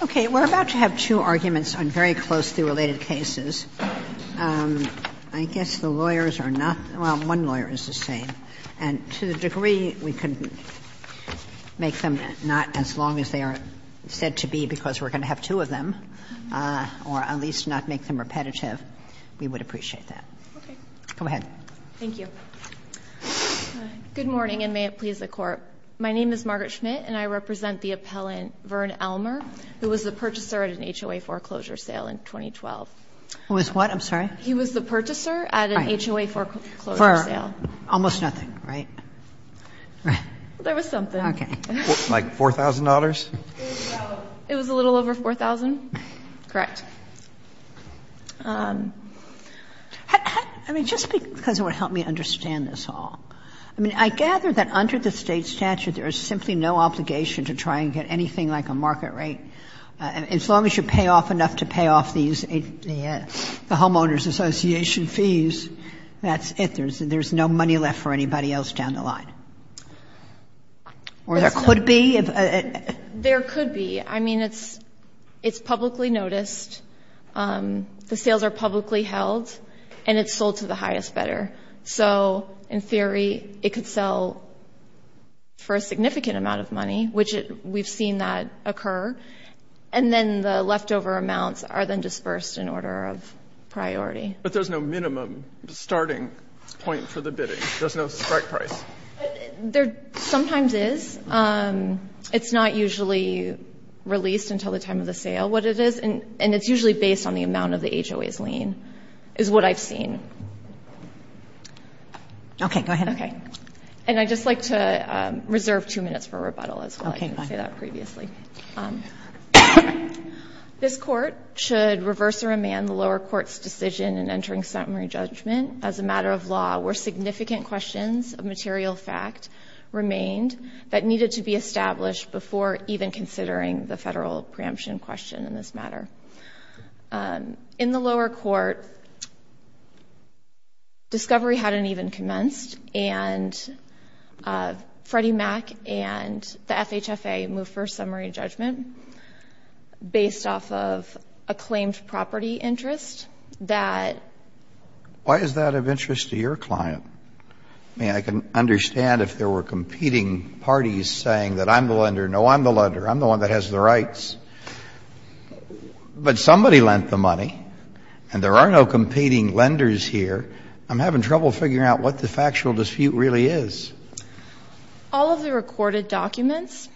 Okay, we're about to have two arguments on very closely related cases. I guess the lawyers are not – well, one lawyer is the same. And to the degree we can make them not as long as they are said to be because we're going to have two of them, or at least not make them repetitive, we would appreciate that. Go ahead. Thank you. Good morning, and may it please the Court. My name is Margaret Schmidt, and I represent the appellant Vern Elmer, who was the purchaser at an HOA foreclosure sale in 2012. Who was what? I'm sorry? He was the purchaser at an HOA foreclosure sale. For almost nothing, right? There was something. Okay. Like $4,000? It was a little over $4,000. Correct. I mean, just because it would help me understand this all. I mean, I gather that under the State statute there is simply no obligation to try and get anything like a market rate. As long as you pay off enough to pay off these – the Homeowners Association fees, that's it. There's no money left for anybody else down the line. Or there could be. There could be. I mean, it's publicly noticed, the sales are publicly held, and it's sold to the highest bidder. So, in theory, it could sell for a significant amount of money, which we've seen that occur. And then the leftover amounts are then dispersed in order of priority. But there's no minimum starting point for the bidding. There's no strike price. There sometimes is. It's not usually released until the time of the sale, what it is. And it's usually based on the amount of the HOA's lien, is what I've seen. Okay. Go ahead. Okay. And I'd just like to reserve two minutes for rebuttal as well. I didn't say that previously. This Court should reverse or amend the lower court's decision in entering summary judgment as a matter of law where significant questions of material fact remained that needed to be established before even considering the federal preemption question in this matter. In the lower court, discovery hadn't even commenced, and Freddie Mac and the FHFA moved for summary judgment based off of a claimed property interest that. Why is that of interest to your client? I mean, I can understand if there were competing parties saying that I'm the lender. No, I'm the lender. I'm the one that has the rights. But somebody lent the money, and there are no competing lenders here. I'm having trouble figuring out what the factual dispute really is. All of the recorded documents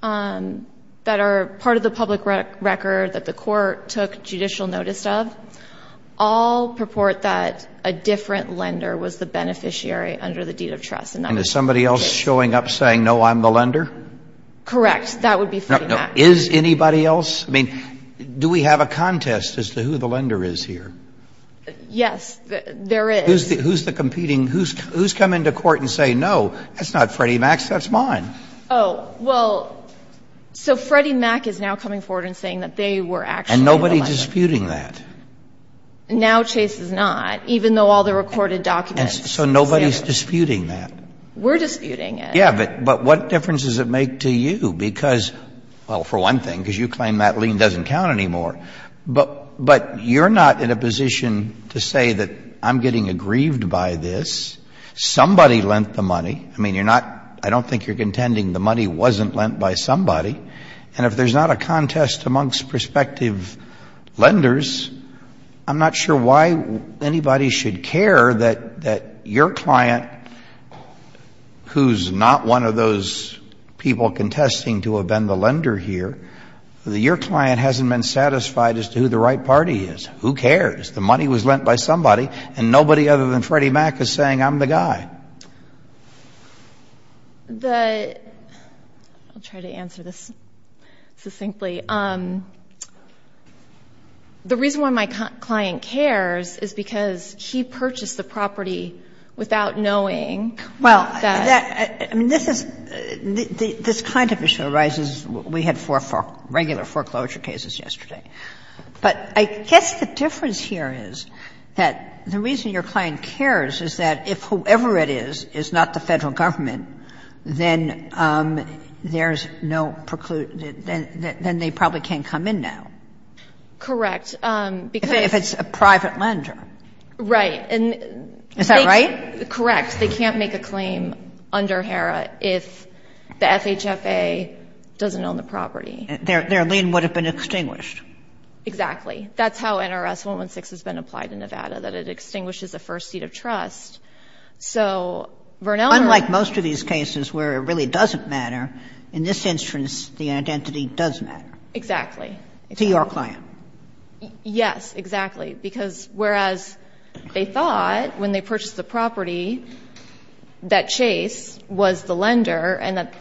that are part of the public record that the Court took judicial notice of all purport that a different lender was the beneficiary under the deed of trust. And is somebody else showing up saying, no, I'm the lender? Correct. That would be Freddie Mac. Is anybody else? I mean, do we have a contest as to who the lender is here? Yes, there is. Who's the competing? Who's come into court and say, no, that's not Freddie Mac's. That's mine. Oh, well, so Freddie Mac is now coming forward and saying that they were actually the lender. Is nobody disputing that? Now Chase is not, even though all the recorded documents. So nobody's disputing that? We're disputing it. Yeah, but what difference does it make to you? Because, well, for one thing, because you claim that lien doesn't count anymore. But you're not in a position to say that I'm getting aggrieved by this. Somebody lent the money. I mean, you're not — I don't think you're contending the money wasn't lent by somebody. And if there's not a contest amongst prospective lenders, I'm not sure why anybody should care that your client, who's not one of those people contesting to have been the lender here, that your client hasn't been satisfied as to who the right party is. Who cares? The money was lent by somebody, and nobody other than Freddie Mac is saying, I'm the guy. The — I'll try to answer this succinctly. The reason why my client cares is because he purchased the property without knowing that — Well, I mean, this is — this kind of issue arises — we had four regular foreclosure cases yesterday. But I guess the difference here is that the reason your client cares is that if whoever it is, is not the Federal Government, then there's no — then they probably can't come in now. Correct. Because — If it's a private lender. Right. And — Is that right? Correct. They can't make a claim under HERA if the FHFA doesn't own the property. Their lien would have been extinguished. Exactly. That's how NRS 116 has been applied in Nevada, that it extinguishes the first seat of trust. So Vernell — Unlike most of these cases where it really doesn't matter, in this instance, the identity does matter. Exactly. To your client. Yes, exactly. Because whereas they thought when they purchased the property that Chase was the lender and that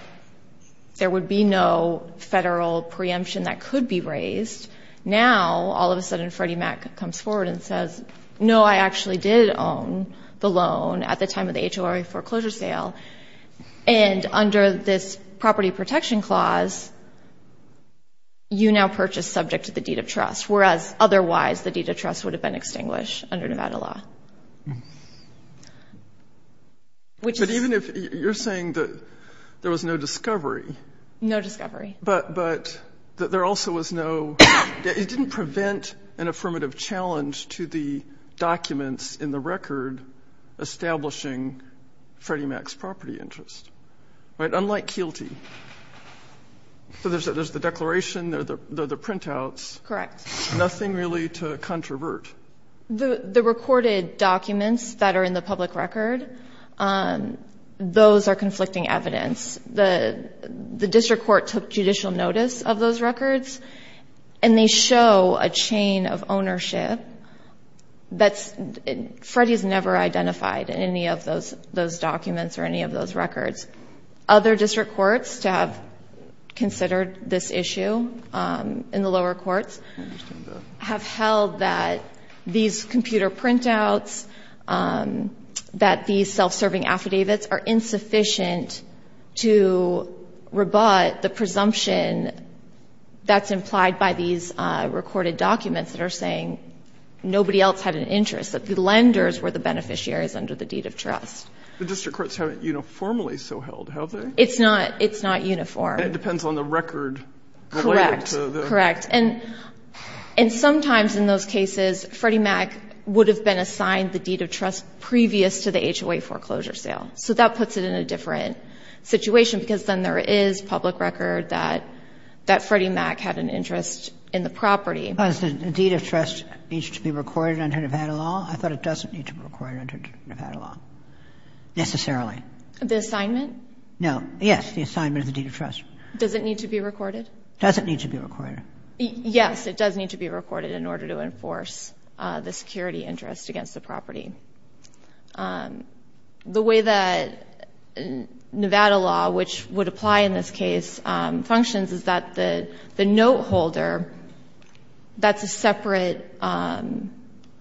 there would be no Federal preemption that could be raised, now, all of a sudden, Freddie Mac comes forward and says, no, I actually did own the loan at the time of the HLRA foreclosure sale. And under this property protection clause, you now purchase subject to the deed of trust, whereas otherwise the deed of trust would have been extinguished under Nevada law. But even if — you're saying that there was no discovery. No discovery. But there also was no — it didn't prevent an affirmative challenge to the documents in the record establishing Freddie Mac's property interest, right? Unlike Kielty. So there's the declaration, there are the printouts. Correct. Nothing really to controvert. The recorded documents that are in the public record, those are conflicting evidence. The district court took judicial notice of those records, and they show a chain of ownership that Freddie has never identified in any of those documents or any of those records. Other district courts to have considered this issue in the lower courts have held that these computer printouts, that these self-serving affidavits are insufficient to rebut the presumption that's implied by these recorded documents that are saying nobody else had an interest, that the lenders were the beneficiaries under the deed of trust. The district courts haven't uniformly so held, have they? It's not. It's not uniform. And it depends on the record related to the — Correct. Correct. And sometimes in those cases, Freddie Mac would have been assigned the deed of trust previous to the HOA foreclosure sale. So that puts it in a different situation, because then there is public record that Freddie Mac had an interest in the property. Does the deed of trust need to be recorded under Nevada law? I thought it doesn't need to be recorded under Nevada law, necessarily. The assignment? No. Yes, the assignment of the deed of trust. Does it need to be recorded? It doesn't need to be recorded. Yes, it does need to be recorded in order to enforce the security interest against the property. The way that Nevada law, which would apply in this case, functions is that the note holder, that's a separate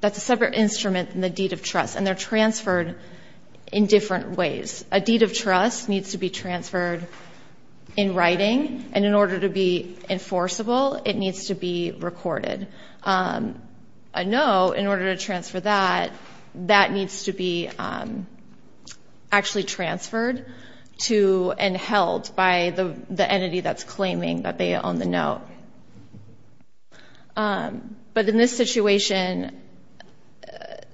instrument than the deed of trust, and they're transferred in different ways. A deed of trust needs to be transferred in writing, and in order to be enforceable, it needs to be recorded. A note, in order to transfer that, that needs to be actually transferred to and held by the entity that's claiming that they own the note. But in this situation,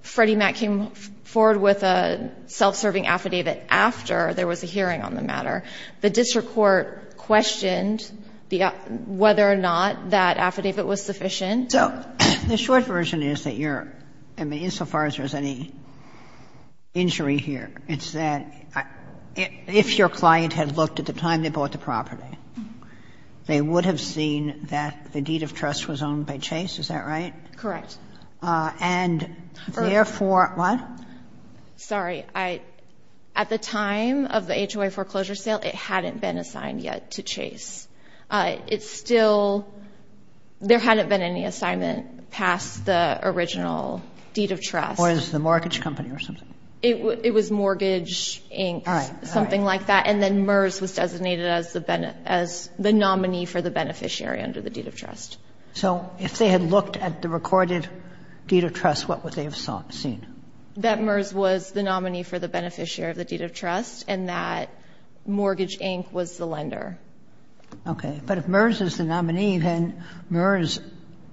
Freddie Mac came forward with a self-serving affidavit after there was a hearing on the matter. The district court questioned whether or not that affidavit was sufficient. So the short version is that you're, I mean, insofar as there's any injury here, it's that if your client had looked at the time they bought the property, they would have seen that the deed of trust was owned by Chase, is that right? Correct. And therefore, what? Sorry. At the time of the HOA foreclosure sale, it hadn't been assigned yet to Chase. It's still, there hadn't been any assignment past the original deed of trust. Or is this the mortgage company or something? It was Mortgage, Inc., something like that. And then MERS was designated as the nominee for the beneficiary under the deed of trust. So if they had looked at the recorded deed of trust, what would they have seen? That MERS was the nominee for the beneficiary of the deed of trust, and that Mortgage, Inc. was the lender. Okay. But if MERS is the nominee, then MERS,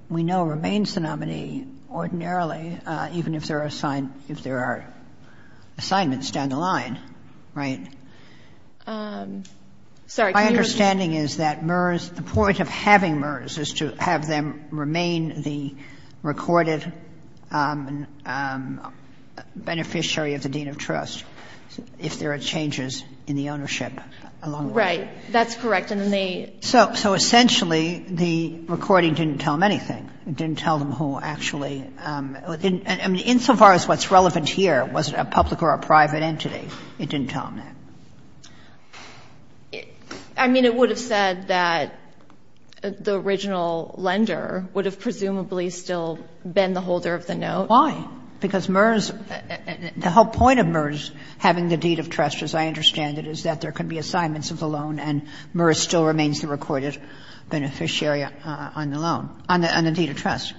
we know, remains the nominee ordinarily, even if there are assignments down the line, right? Sorry. My understanding is that MERS, the point of having MERS is to have them remain the recorded beneficiary of the deed of trust if there are changes in the ownership along the way. Right. That's correct. And then they. So essentially, the recording didn't tell them anything. It didn't tell them who actually. And insofar as what's relevant here, was it a public or a private entity, it didn't tell them that. I mean, it would have said that the original lender would have presumably still been the holder of the note. Why? Because MERS, the whole point of MERS having the deed of trust, as I understand it, is that there can be assignments of the loan and MERS still remains the recorded beneficiary on the loan, on the deed of trust.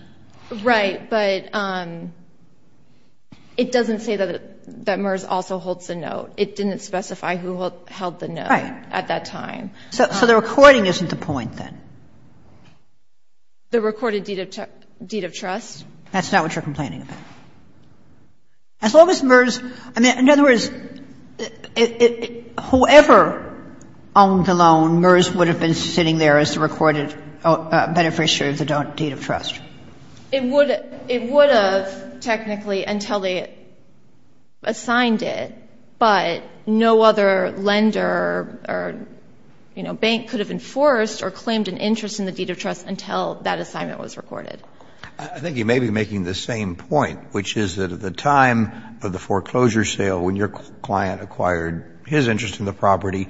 Right. But it doesn't say that MERS also holds the note. It didn't specify who held the note. Right. At that time. So the recording isn't the point then? The recorded deed of trust. That's not what you're complaining about. As long as MERS, in other words, whoever owned the loan, MERS would have been sitting there as the recorded beneficiary of the deed of trust. It would have technically until they assigned it, but no other lender or, you know, bank could have enforced or claimed an interest in the deed of trust until that assignment was recorded. I think you may be making the same point, which is that at the time of the foreclosure sale, when your client acquired his interest in the property,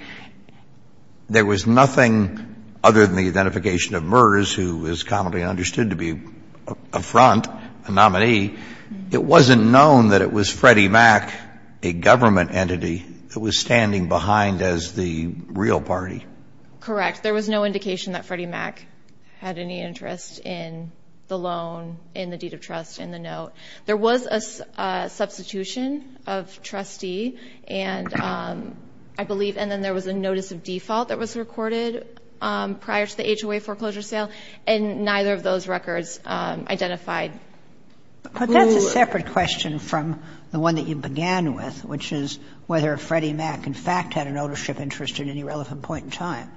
there was nothing other than the identification of MERS, who is commonly understood to be a front, a nominee. It wasn't known that it was Freddie Mac, a government entity, that was standing behind as the real party. Correct. There was no indication that Freddie Mac had any interest in the loan, in the deed of trust, in the note. There was a substitution of trustee, and I believe, and then there was a notice of default that was recorded prior to the HOA foreclosure sale, and neither of those records identified who. But that's a separate question from the one that you began with, which is whether Freddie Mac, in fact, had an ownership interest at any relevant point in time.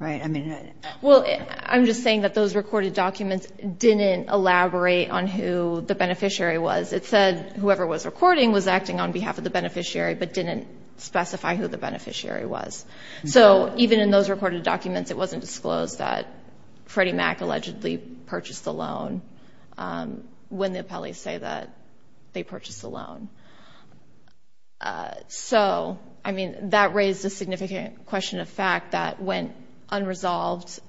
Right? Well, I'm just saying that those recorded documents didn't elaborate on who the beneficiary was. It said whoever was recording was acting on behalf of the beneficiary, but didn't specify who the beneficiary was. So even in those recorded documents, it wasn't disclosed that Freddie Mac allegedly purchased the loan when the appellees say that they purchased the loan. So, I mean, that raised a significant question of fact that went unresolved.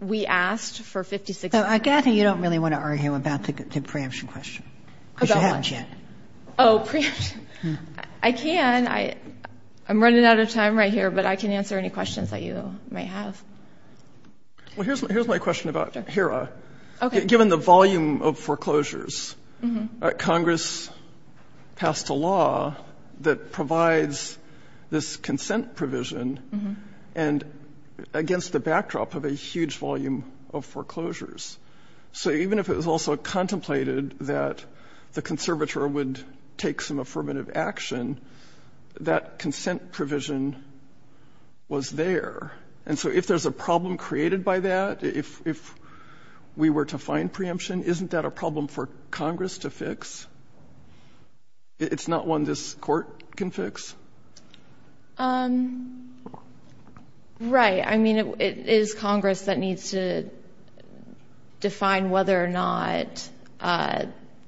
We asked for 56 percent. So, Kathy, you don't really want to argue about the preemption question, because you haven't yet. Oh, preemption. I can. I'm running out of time right here, but I can answer any questions that you may have. Well, here's my question about HERA. Okay. Given the volume of foreclosures, Congress passed a law that provides this consent provision against the backdrop of a huge volume of foreclosures. So even if it was also contemplated that the conservator would take some affirmative action, that consent provision was there. And so if there's a problem created by that, if we were to find preemption, isn't that a problem for Congress to fix? It's not one this Court can fix? Right. I mean, it is Congress that needs to define whether or not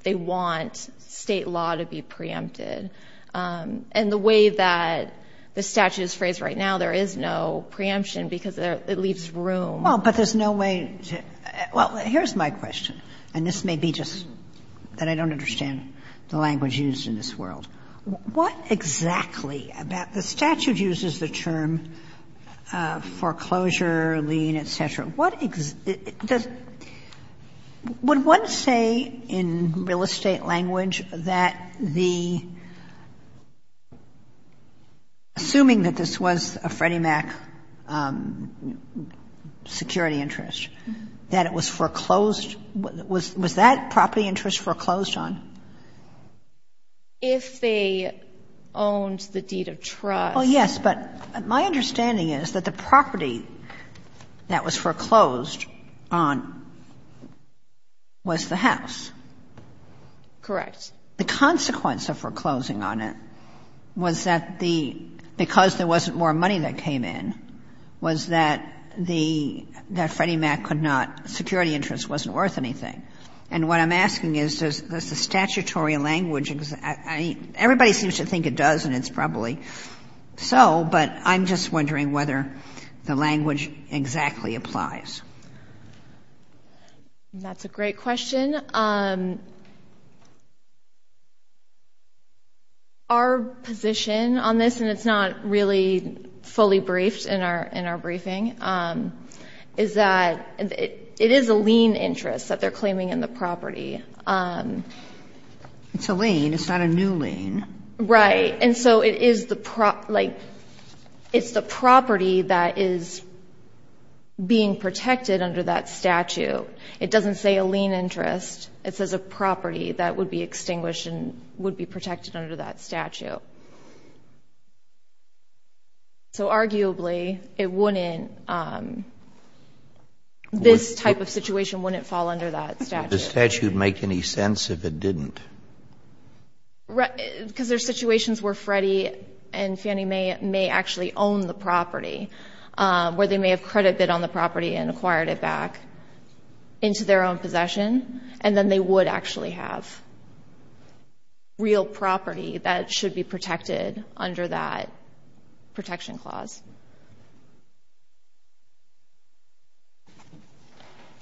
they want State law to be preempted. And the way that the statute is phrased right now, there is no preemption because it leaves room. Well, but there's no way to – well, here's my question, and this may be just that I don't understand the language used in this world. What exactly about the statute uses the term foreclosure, lien, et cetera. What does – would one say in real estate language that the – assuming that this was a Freddie Mac security interest, that it was foreclosed? Was that property interest foreclosed on? If they owned the deed of trust. Oh, yes. But my understanding is that the property that was foreclosed on was the house. Correct. The consequence of foreclosing on it was that the – because there wasn't more money that came in, was that the – that Freddie Mac could not – security interest wasn't worth anything. And what I'm asking is, does the statutory language – everybody seems to think it does, and it's probably so, but I'm just wondering whether the language exactly applies. That's a great question. Our position on this, and it's not really fully briefed in our briefing, is that it is a lien interest that they're claiming in the property. It's a lien. It's not a new lien. Right. And so it is the – like, it's the property that is being protected under that statute. It doesn't say a lien interest. It says a property that would be extinguished and would be protected under that statute. So arguably, it wouldn't – this type of situation wouldn't fall under that statute. Would the statute make any sense if it didn't? Because there are situations where Freddie and Fannie may actually own the property, where they may have credit bid on the property and acquired it back into their own possession, and then they would actually have real property that should be protected under that protection clause.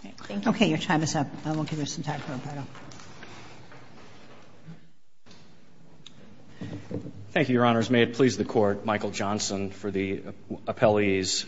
Okay. Thank you. Okay. Your time is up. I won't give you some time for a brief. Thank you, Your Honors. May it please the Court, Michael Johnson for the appellees,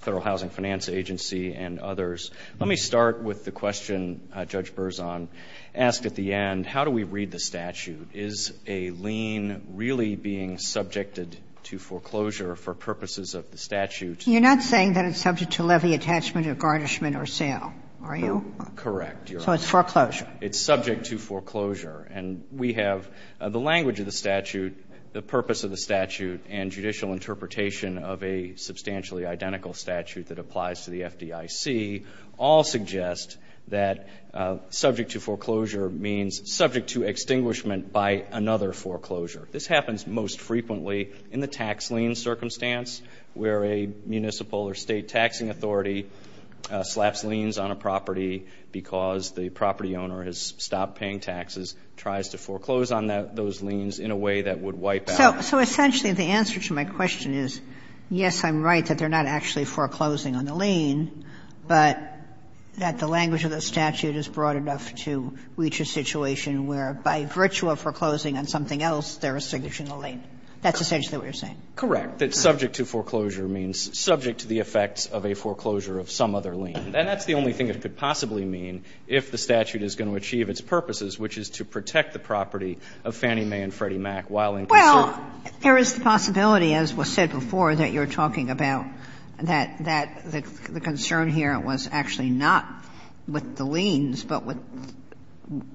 Federal Housing Finance Agency, and others. Let me start with the question Judge Berzon asked at the end. How do we read the statute? Is a lien really being subjected to foreclosure for purposes of the statute? You're not saying that it's subject to levy attachment or garnishment or sale, are you? Correct. So it's foreclosure. It's subject to foreclosure. And we have the language of the statute, the purpose of the statute, and judicial interpretation of a substantially identical statute that applies to the FDIC all suggest that subject to foreclosure means subject to extinguishment by another foreclosure. This happens most frequently in the tax lien circumstance where a municipal or state taxing authority slaps liens on a property because the property owner has stopped paying taxes, tries to foreclose on those liens in a way that would wipe out. So essentially the answer to my question is, yes, I'm right that they're not actually foreclosing on the lien, but that the language of the statute is broad enough to reach a situation where by virtue of foreclosing on something else, they're extinguishing the lien. That's essentially what you're saying. Correct. That subject to foreclosure means subject to the effects of a foreclosure of some other lien. And that's the only thing it could possibly mean if the statute is going to achieve its purposes, which is to protect the property of Fannie Mae and Freddie Mac while in concern. Sotomayor, there is the possibility, as was said before, that you're talking about that the concern here was actually not with the liens, but with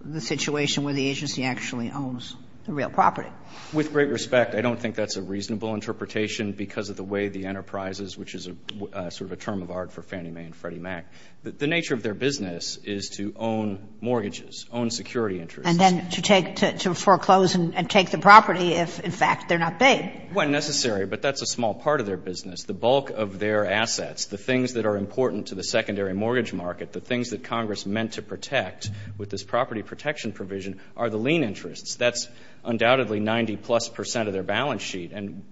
the situation where the agency actually owns the real property. With great respect, I don't think that's a reasonable interpretation because of the way the enterprises, which is sort of a term of art for Fannie Mae and Freddie Mac, the nature of their business is to own mortgages, own security interests. And then to take to foreclose and take the property if, in fact, they're not paid. Well, necessary, but that's a small part of their business. The bulk of their assets, the things that are important to the secondary mortgage market, the things that Congress meant to protect with this property protection provision are the lien interests. That's undoubtedly 90-plus percent of their balance sheet. And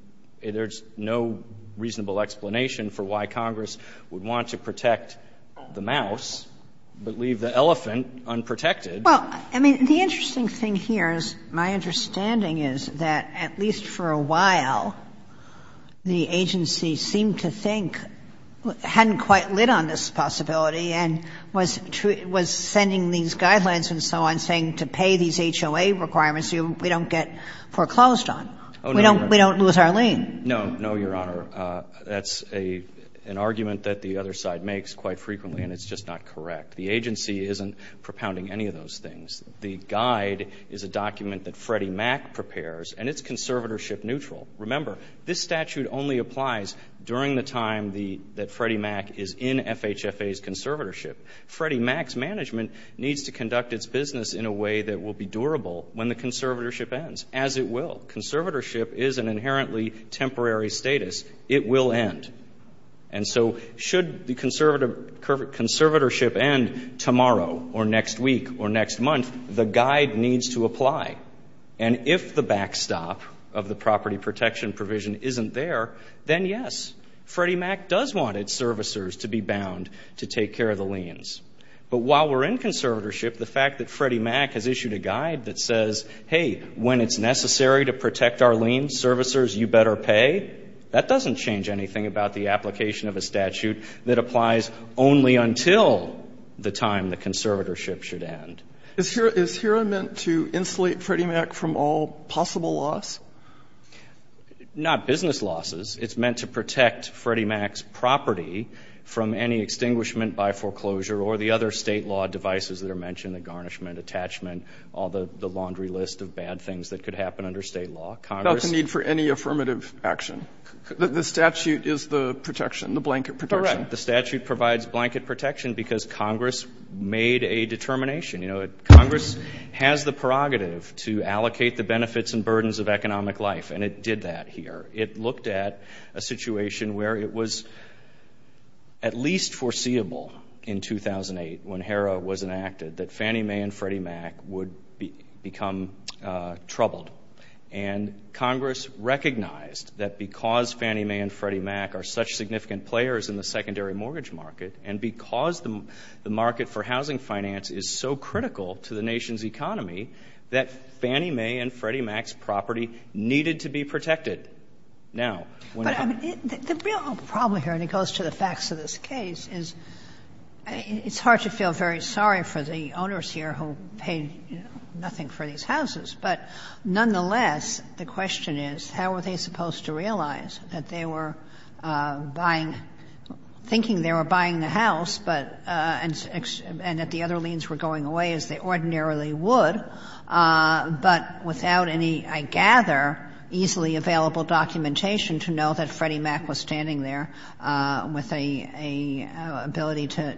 there's no reasonable explanation for why Congress would want to protect the mouse, but leave the elephant unprotected. Well, I mean, the interesting thing here is my understanding is that at least for a while, the agency seemed to think, hadn't quite lit on this possibility and was sending these guidelines and so on saying to pay these HOA requirements so we don't get foreclosed on, we don't lose our lien. No, no, Your Honor. That's an argument that the other side makes quite frequently, and it's just not correct. The agency isn't propounding any of those things. The guide is a document that Freddie Mac prepares, and it's conservatorship neutral. Remember, this statute only applies during the time that Freddie Mac is in FHFA's conservatorship. Freddie Mac's management needs to conduct its business in a way that will be durable when the conservatorship ends, as it will. Conservatorship is an inherently temporary status. It will end. And so should the conservatorship end tomorrow or next week or next month, the guide needs to apply. And if the backstop of the property protection provision isn't there, then yes, Freddie Mac does want its servicers to be bound to take care of the liens. But while we're in conservatorship, the fact that Freddie Mac has issued a guide that says, hey, when it's necessary to protect our lien, servicers, you better pay, that doesn't change anything about the application of a statute that applies only until the time the conservatorship should end. Is HERA meant to insulate Freddie Mac from all possible loss? Not business losses. It's meant to protect Freddie Mac's property from any extinguishment by foreclosure or the other state law devices that are mentioned, the garnishment, attachment, all the laundry list of bad things that could happen under state law. That's a need for any affirmative action. The statute is the protection, the blanket protection. Correct. The statute provides blanket protection because Congress made a determination. You know, Congress has the prerogative to allocate the benefits and burdens of economic life, and it did that here. It looked at a situation where it was at least foreseeable in 2008 when HERA was enacted that Fannie Mae and Freddie Mac would become troubled. And Congress recognized that because Fannie Mae and Freddie Mac are such significant players in the secondary mortgage market, and because the market for housing finance is so critical to the nation's economy, that Fannie Mae and Freddie Mac's property needed to be protected. Now, when it comes to the real problem here, and it goes to the facts of this case, is it's hard to feel very sorry for the owners here who paid nothing for these houses. But nonetheless, the question is, how were they supposed to realize that they were buying, thinking they were buying the house, but, and that the other liens were going away as they ordinarily would, but without any, I gather, easily available documentation to know that Freddie Mac was standing there with a ability to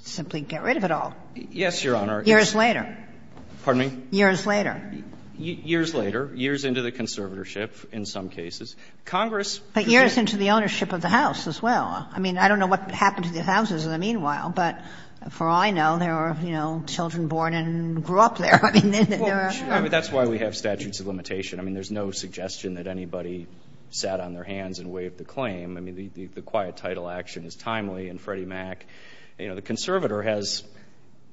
simply get rid of it all? Yes, Your Honor. Years later. Pardon me? Years later. Years later, years into the conservatorship, in some cases. Congress. But years into the ownership of the house as well. I mean, I don't know what happened to the houses in the meanwhile, but for all I know, there were, you know, children born and grew up there. I mean, there were. Well, sure, but that's why we have statutes of limitation. I mean, there's no suggestion that anybody sat on their hands and waived the claim. I mean, the quiet title action is timely, and Freddie Mac, you know, the conservator has,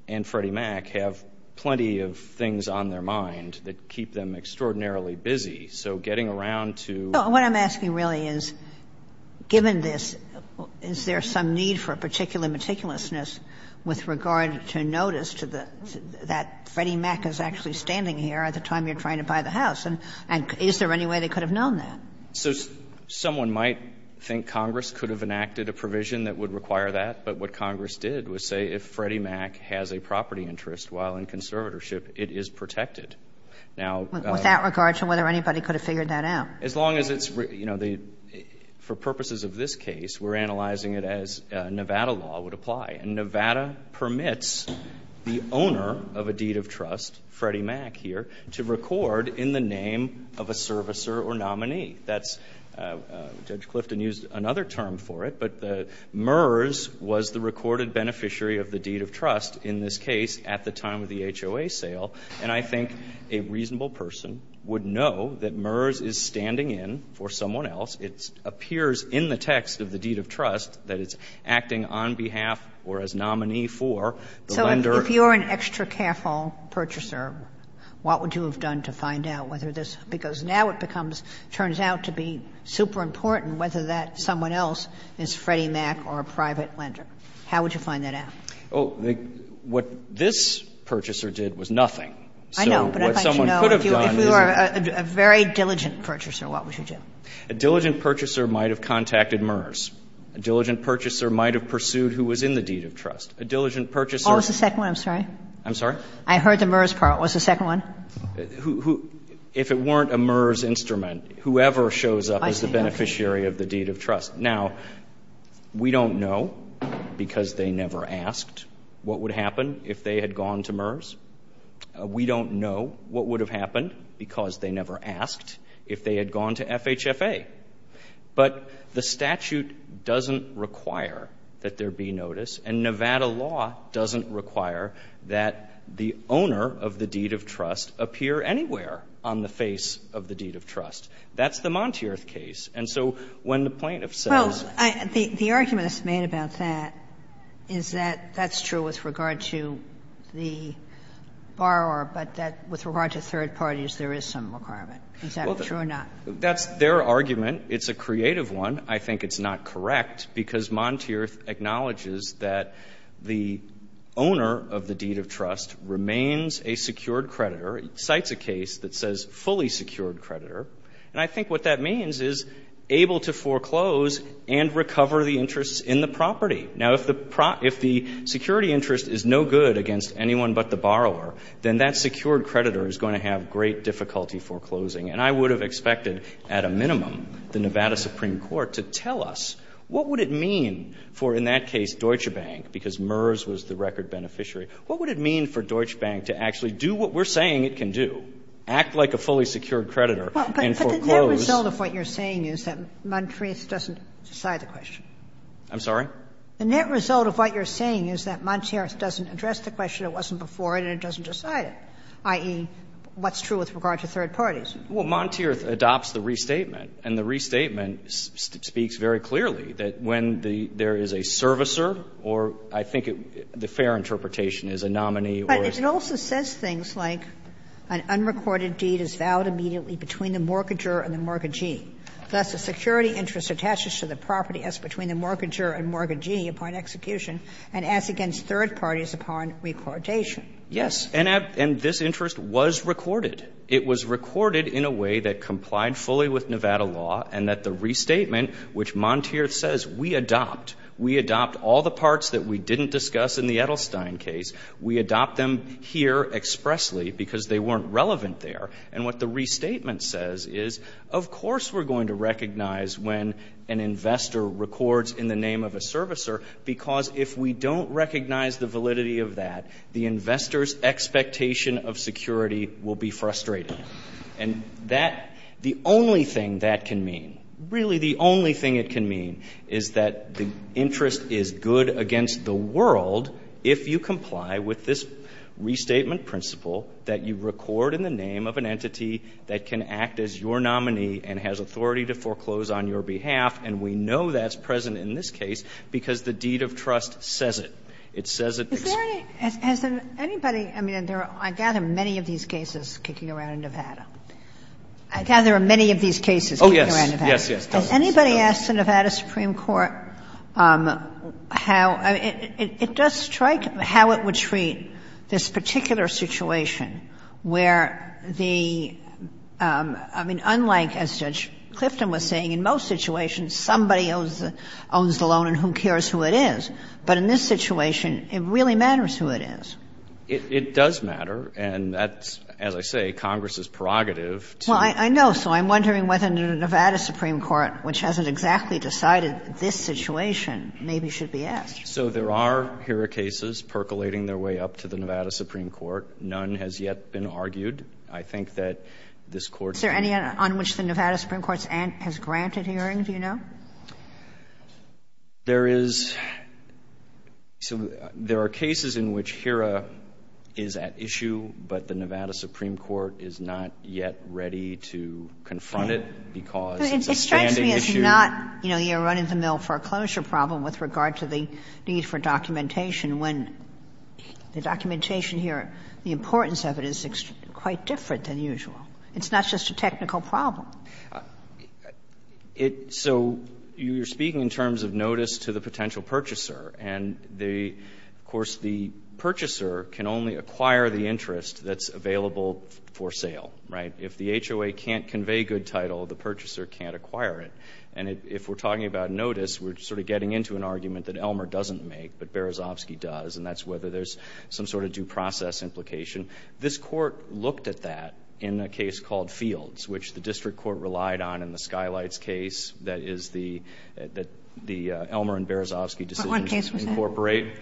and Freddie Mac, have plenty of things on their mind that keep them extraordinarily busy. So getting around to. But what I'm asking really is, given this, is there some need for a particular meticulousness with regard to notice to the, that Freddie Mac is actually standing here at the time you're trying to buy the house, and is there any way they could have known that? So someone might think Congress could have enacted a provision that would require that. But what Congress did was say, if Freddie Mac has a property interest while in conservatorship, it is protected. Now. With that regard to whether anybody could have figured that out. As long as it's, you know, the, for purposes of this case, we're analyzing it as Nevada law would apply. And Nevada permits the owner of a deed of trust, Freddie Mac here, to record in the name of a servicer or nominee. That's, Judge Clifton used another term for it. But the, MERS was the recorded beneficiary of the deed of trust in this case at the time of the HOA sale. And I think a reasonable person would know that MERS is standing in for someone else. It appears in the text of the deed of trust that it's acting on behalf or as nominee for the lender. So if you're an extra careful purchaser, what would you have done to find out whether this, because now it becomes, turns out to be super important whether that someone else is Freddie Mac or a private lender. How would you find that out? Oh, what this purchaser did was nothing. So what someone could have done is a very diligent purchaser. What would you do? A diligent purchaser might have contacted MERS. A diligent purchaser might have pursued who was in the deed of trust. A diligent purchaser. Oh, it's the second one. I'm sorry. I'm sorry. I heard the MERS part. What's the second one? Who, if it weren't a MERS instrument, whoever shows up as the beneficiary of the deed of trust. Now, we don't know because they never asked what would happen if they had gone to MERS. We don't know what would have happened because they never asked if they had gone to FHFA. But the statute doesn't require that there be notice. And Nevada law doesn't require that the owner of the deed of trust appear anywhere on the face of the deed of trust. That's the Monteerth case. And so when the plaintiff says that. Well, the argument that's made about that is that that's true with regard to the borrower, but that with regard to third parties, there is some requirement. Is that true or not? That's their argument. It's a creative one. I think it's not correct because Monteerth acknowledges that the owner of the deed of trust remains a secured creditor, cites a case that says fully secured creditor. And I think what that means is able to foreclose and recover the interests in the property. Now, if the security interest is no good against anyone but the borrower, then that secured creditor is going to have great difficulty foreclosing. And I would have expected, at a minimum, the Nevada Supreme Court to tell us, what would it mean for, in that case, Deutsche Bank, because MERS was the record beneficiary, what would it mean for Deutsche Bank to actually do what we're saying it can do, act like a fully secured creditor and foreclose. But the net result of what you're saying is that Monteerth doesn't decide the question. I'm sorry? The net result of what you're saying is that Monteerth doesn't address the question. It wasn't before it and it doesn't decide it, i.e., what's true with regard to third parties. Well, Monteerth adopts the restatement. And the restatement speaks very clearly that when there is a servicer or, I think it the fair interpretation is a nominee or. But it also says things like an unrecorded deed is vowed immediately between the mortgager and the mortgagee. Thus, the security interest attaches to the property as between the mortgager and mortgagee upon execution and as against third parties upon recordation. Yes. And this interest was recorded. It was recorded in a way that complied fully with Nevada law and that the restatement, which Monteerth says, we adopt. We adopt all the parts that we didn't discuss in the Edelstein case. We adopt them here expressly because they weren't relevant there. And what the restatement says is, of course, we're going to recognize when an investor records in the name of a servicer because if we don't recognize the validity of that, the investor's expectation of security will be frustrated. And that, the only thing that can mean, really the only thing it can mean is that the interest is good against the world if you comply with this restatement principle that you record in the name of an entity that can act as your nominee and has authority to foreclose on your behalf. And we know that's present in this case because the deed of trust says it. It says it. Is there any, has anybody, I mean, I gather many of these cases kicking around in Nevada. I gather there are many of these cases kicking around in Nevada. Oh, yes. Yes, yes. Has anybody asked the Nevada Supreme Court how, I mean, it does strike, how it would treat this particular situation where the, I mean, unlike, as Judge Clifton was saying, in most situations somebody owns the loan and who cares who it is, but in this situation it really matters who it is. It does matter, and that's, as I say, Congress's prerogative to. Well, I know, so I'm wondering whether the Nevada Supreme Court, which hasn't exactly decided this situation, maybe should be asked. So there are HERA cases percolating their way up to the Nevada Supreme Court. None has yet been argued. I think that this Court. Is there any on which the Nevada Supreme Court has granted hearing, do you know? There is. So there are cases in which HERA is at issue, but the Nevada Supreme Court is not yet ready to confront it because it's a standing issue. It strikes me as not, you know, you're running the mill foreclosure problem with regard to the need for documentation when the documentation here, the importance of it is quite different than usual. It's not just a technical problem. It, so you're speaking in terms of notice to the potential purchaser, and the, of course, the purchaser can only acquire the interest that's available for sale, right? If the HOA can't convey good title, the purchaser can't acquire it. And if we're talking about notice, we're sort of getting into an argument that Elmer doesn't make, but Berezovsky does, and that's whether there's some sort of due process implication. This Court looked at that in a case called Fields, which the district court relied on in the Skylights case that is the, that the Elmer and Berezovsky decisions incorporate.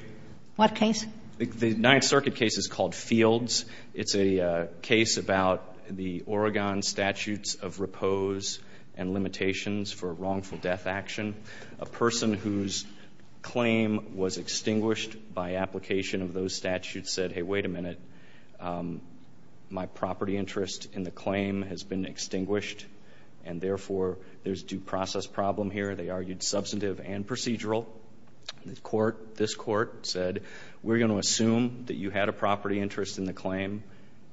What case? The Ninth Circuit case is called Fields. It's a case about the Oregon statutes of repose and limitations for wrongful death action. A person whose claim was extinguished by application of those statutes said, hey, wait a minute, my property interest in the claim has been extinguished. And therefore, there's due process problem here. They argued substantive and procedural. The court, this court said, we're going to assume that you had a property interest in the claim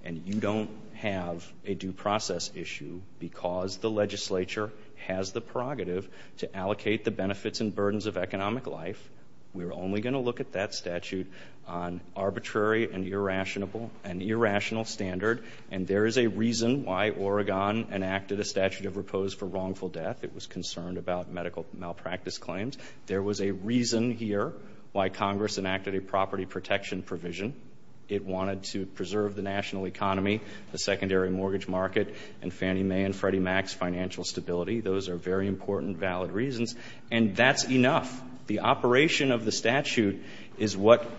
and you don't have a due process issue because the legislature has the prerogative to allocate the benefits and burdens of economic life. We're only going to look at that statute on arbitrary and irrational standard. And there is a reason why Oregon enacted a statute of repose for wrongful death. It was concerned about medical malpractice claims. There was a reason here why Congress enacted a property protection provision. It wanted to preserve the national economy, the secondary mortgage market, and Fannie Mae and Freddie Mac's financial stability. Those are very important valid reasons. And that's enough. The operation of the statute is what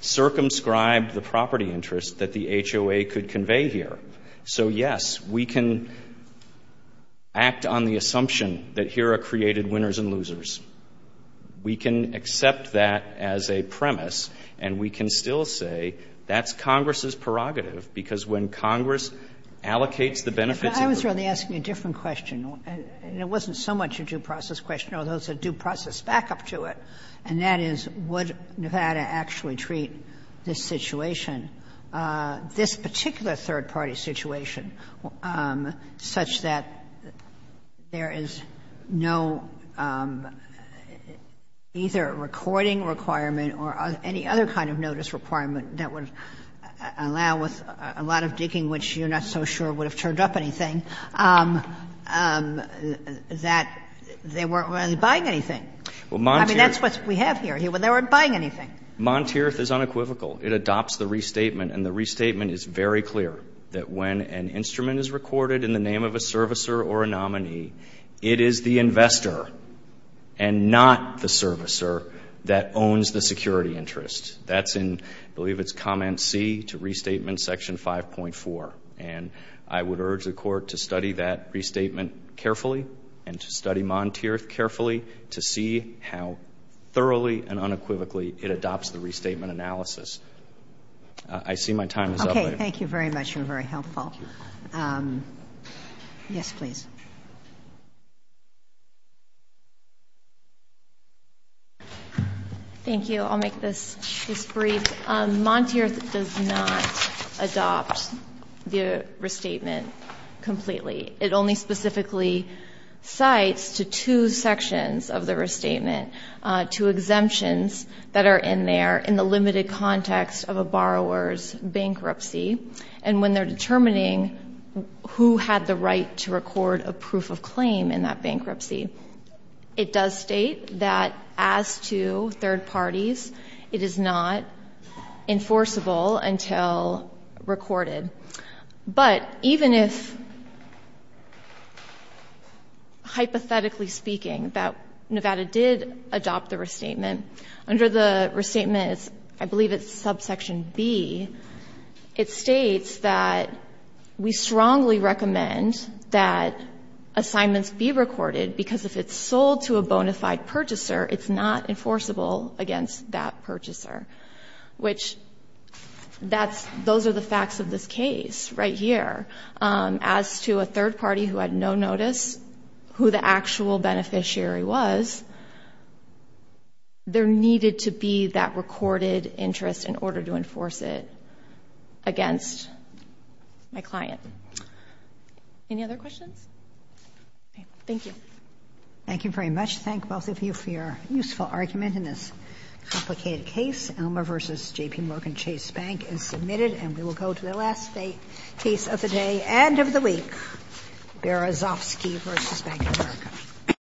circumscribed the property interest that the HOA could convey here. So, yes, we can act on the assumption that here are created winners and losers. We can accept that as a premise, and we can still say that's Congress's prerogative because when Congress allocates the benefits of the program. I was really asking a different question, and it wasn't so much a due process question, although it's a due process backup to it, and that is would Nevada actually treat this situation, this particular third-party situation, such that there is no either a recording requirement or any other kind of notice requirement that would allow with a lot of digging, which you're not so sure would have turned up anything, that they weren't really buying anything? I mean, that's what we have here. They weren't buying anything. Monteerth is unequivocal. It adopts the restatement, and the restatement is very clear that when an instrument is recorded in the name of a servicer or a nominee, it is the investor and not the servicer that owns the security interest. That's in, I believe it's comment C to restatement section 5.4. And I would urge the court to study that restatement carefully and to study Monteerth carefully to see how thoroughly and unequivocally it adopts the restatement analysis. I see my time is up. Okay, thank you very much. You're very helpful. Yes, please. Thank you. I'll make this brief. Monteerth does not adopt the restatement completely. It only specifically cites to two sections of the restatement, two exemptions that are in there in the limited context of a borrower's bankruptcy. And when they're determining who had the right to record a proof of claim in that bankruptcy, it does state that as to third parties, it is not enforceable until recorded. But even if, hypothetically speaking, that Nevada did adopt the restatement, under the restatement, I believe it's subsection B, it states that we strongly recommend that assignments be recorded because if it's sold to a bona fide purchaser, it's not enforceable against that purchaser. Which that's, those are the facts of this case right here. As to a third party who had no notice, who the actual beneficiary was, there needed to be that recorded interest in order to enforce it against my client. Any other questions? Thank you. Thank you very much. Thank both of you for your useful argument in this complicated case. Elmer v. J.P. Morgan Chase Bank is submitted. And we will go to the last case of the day and of the week, Berezovsky v. Bank of America.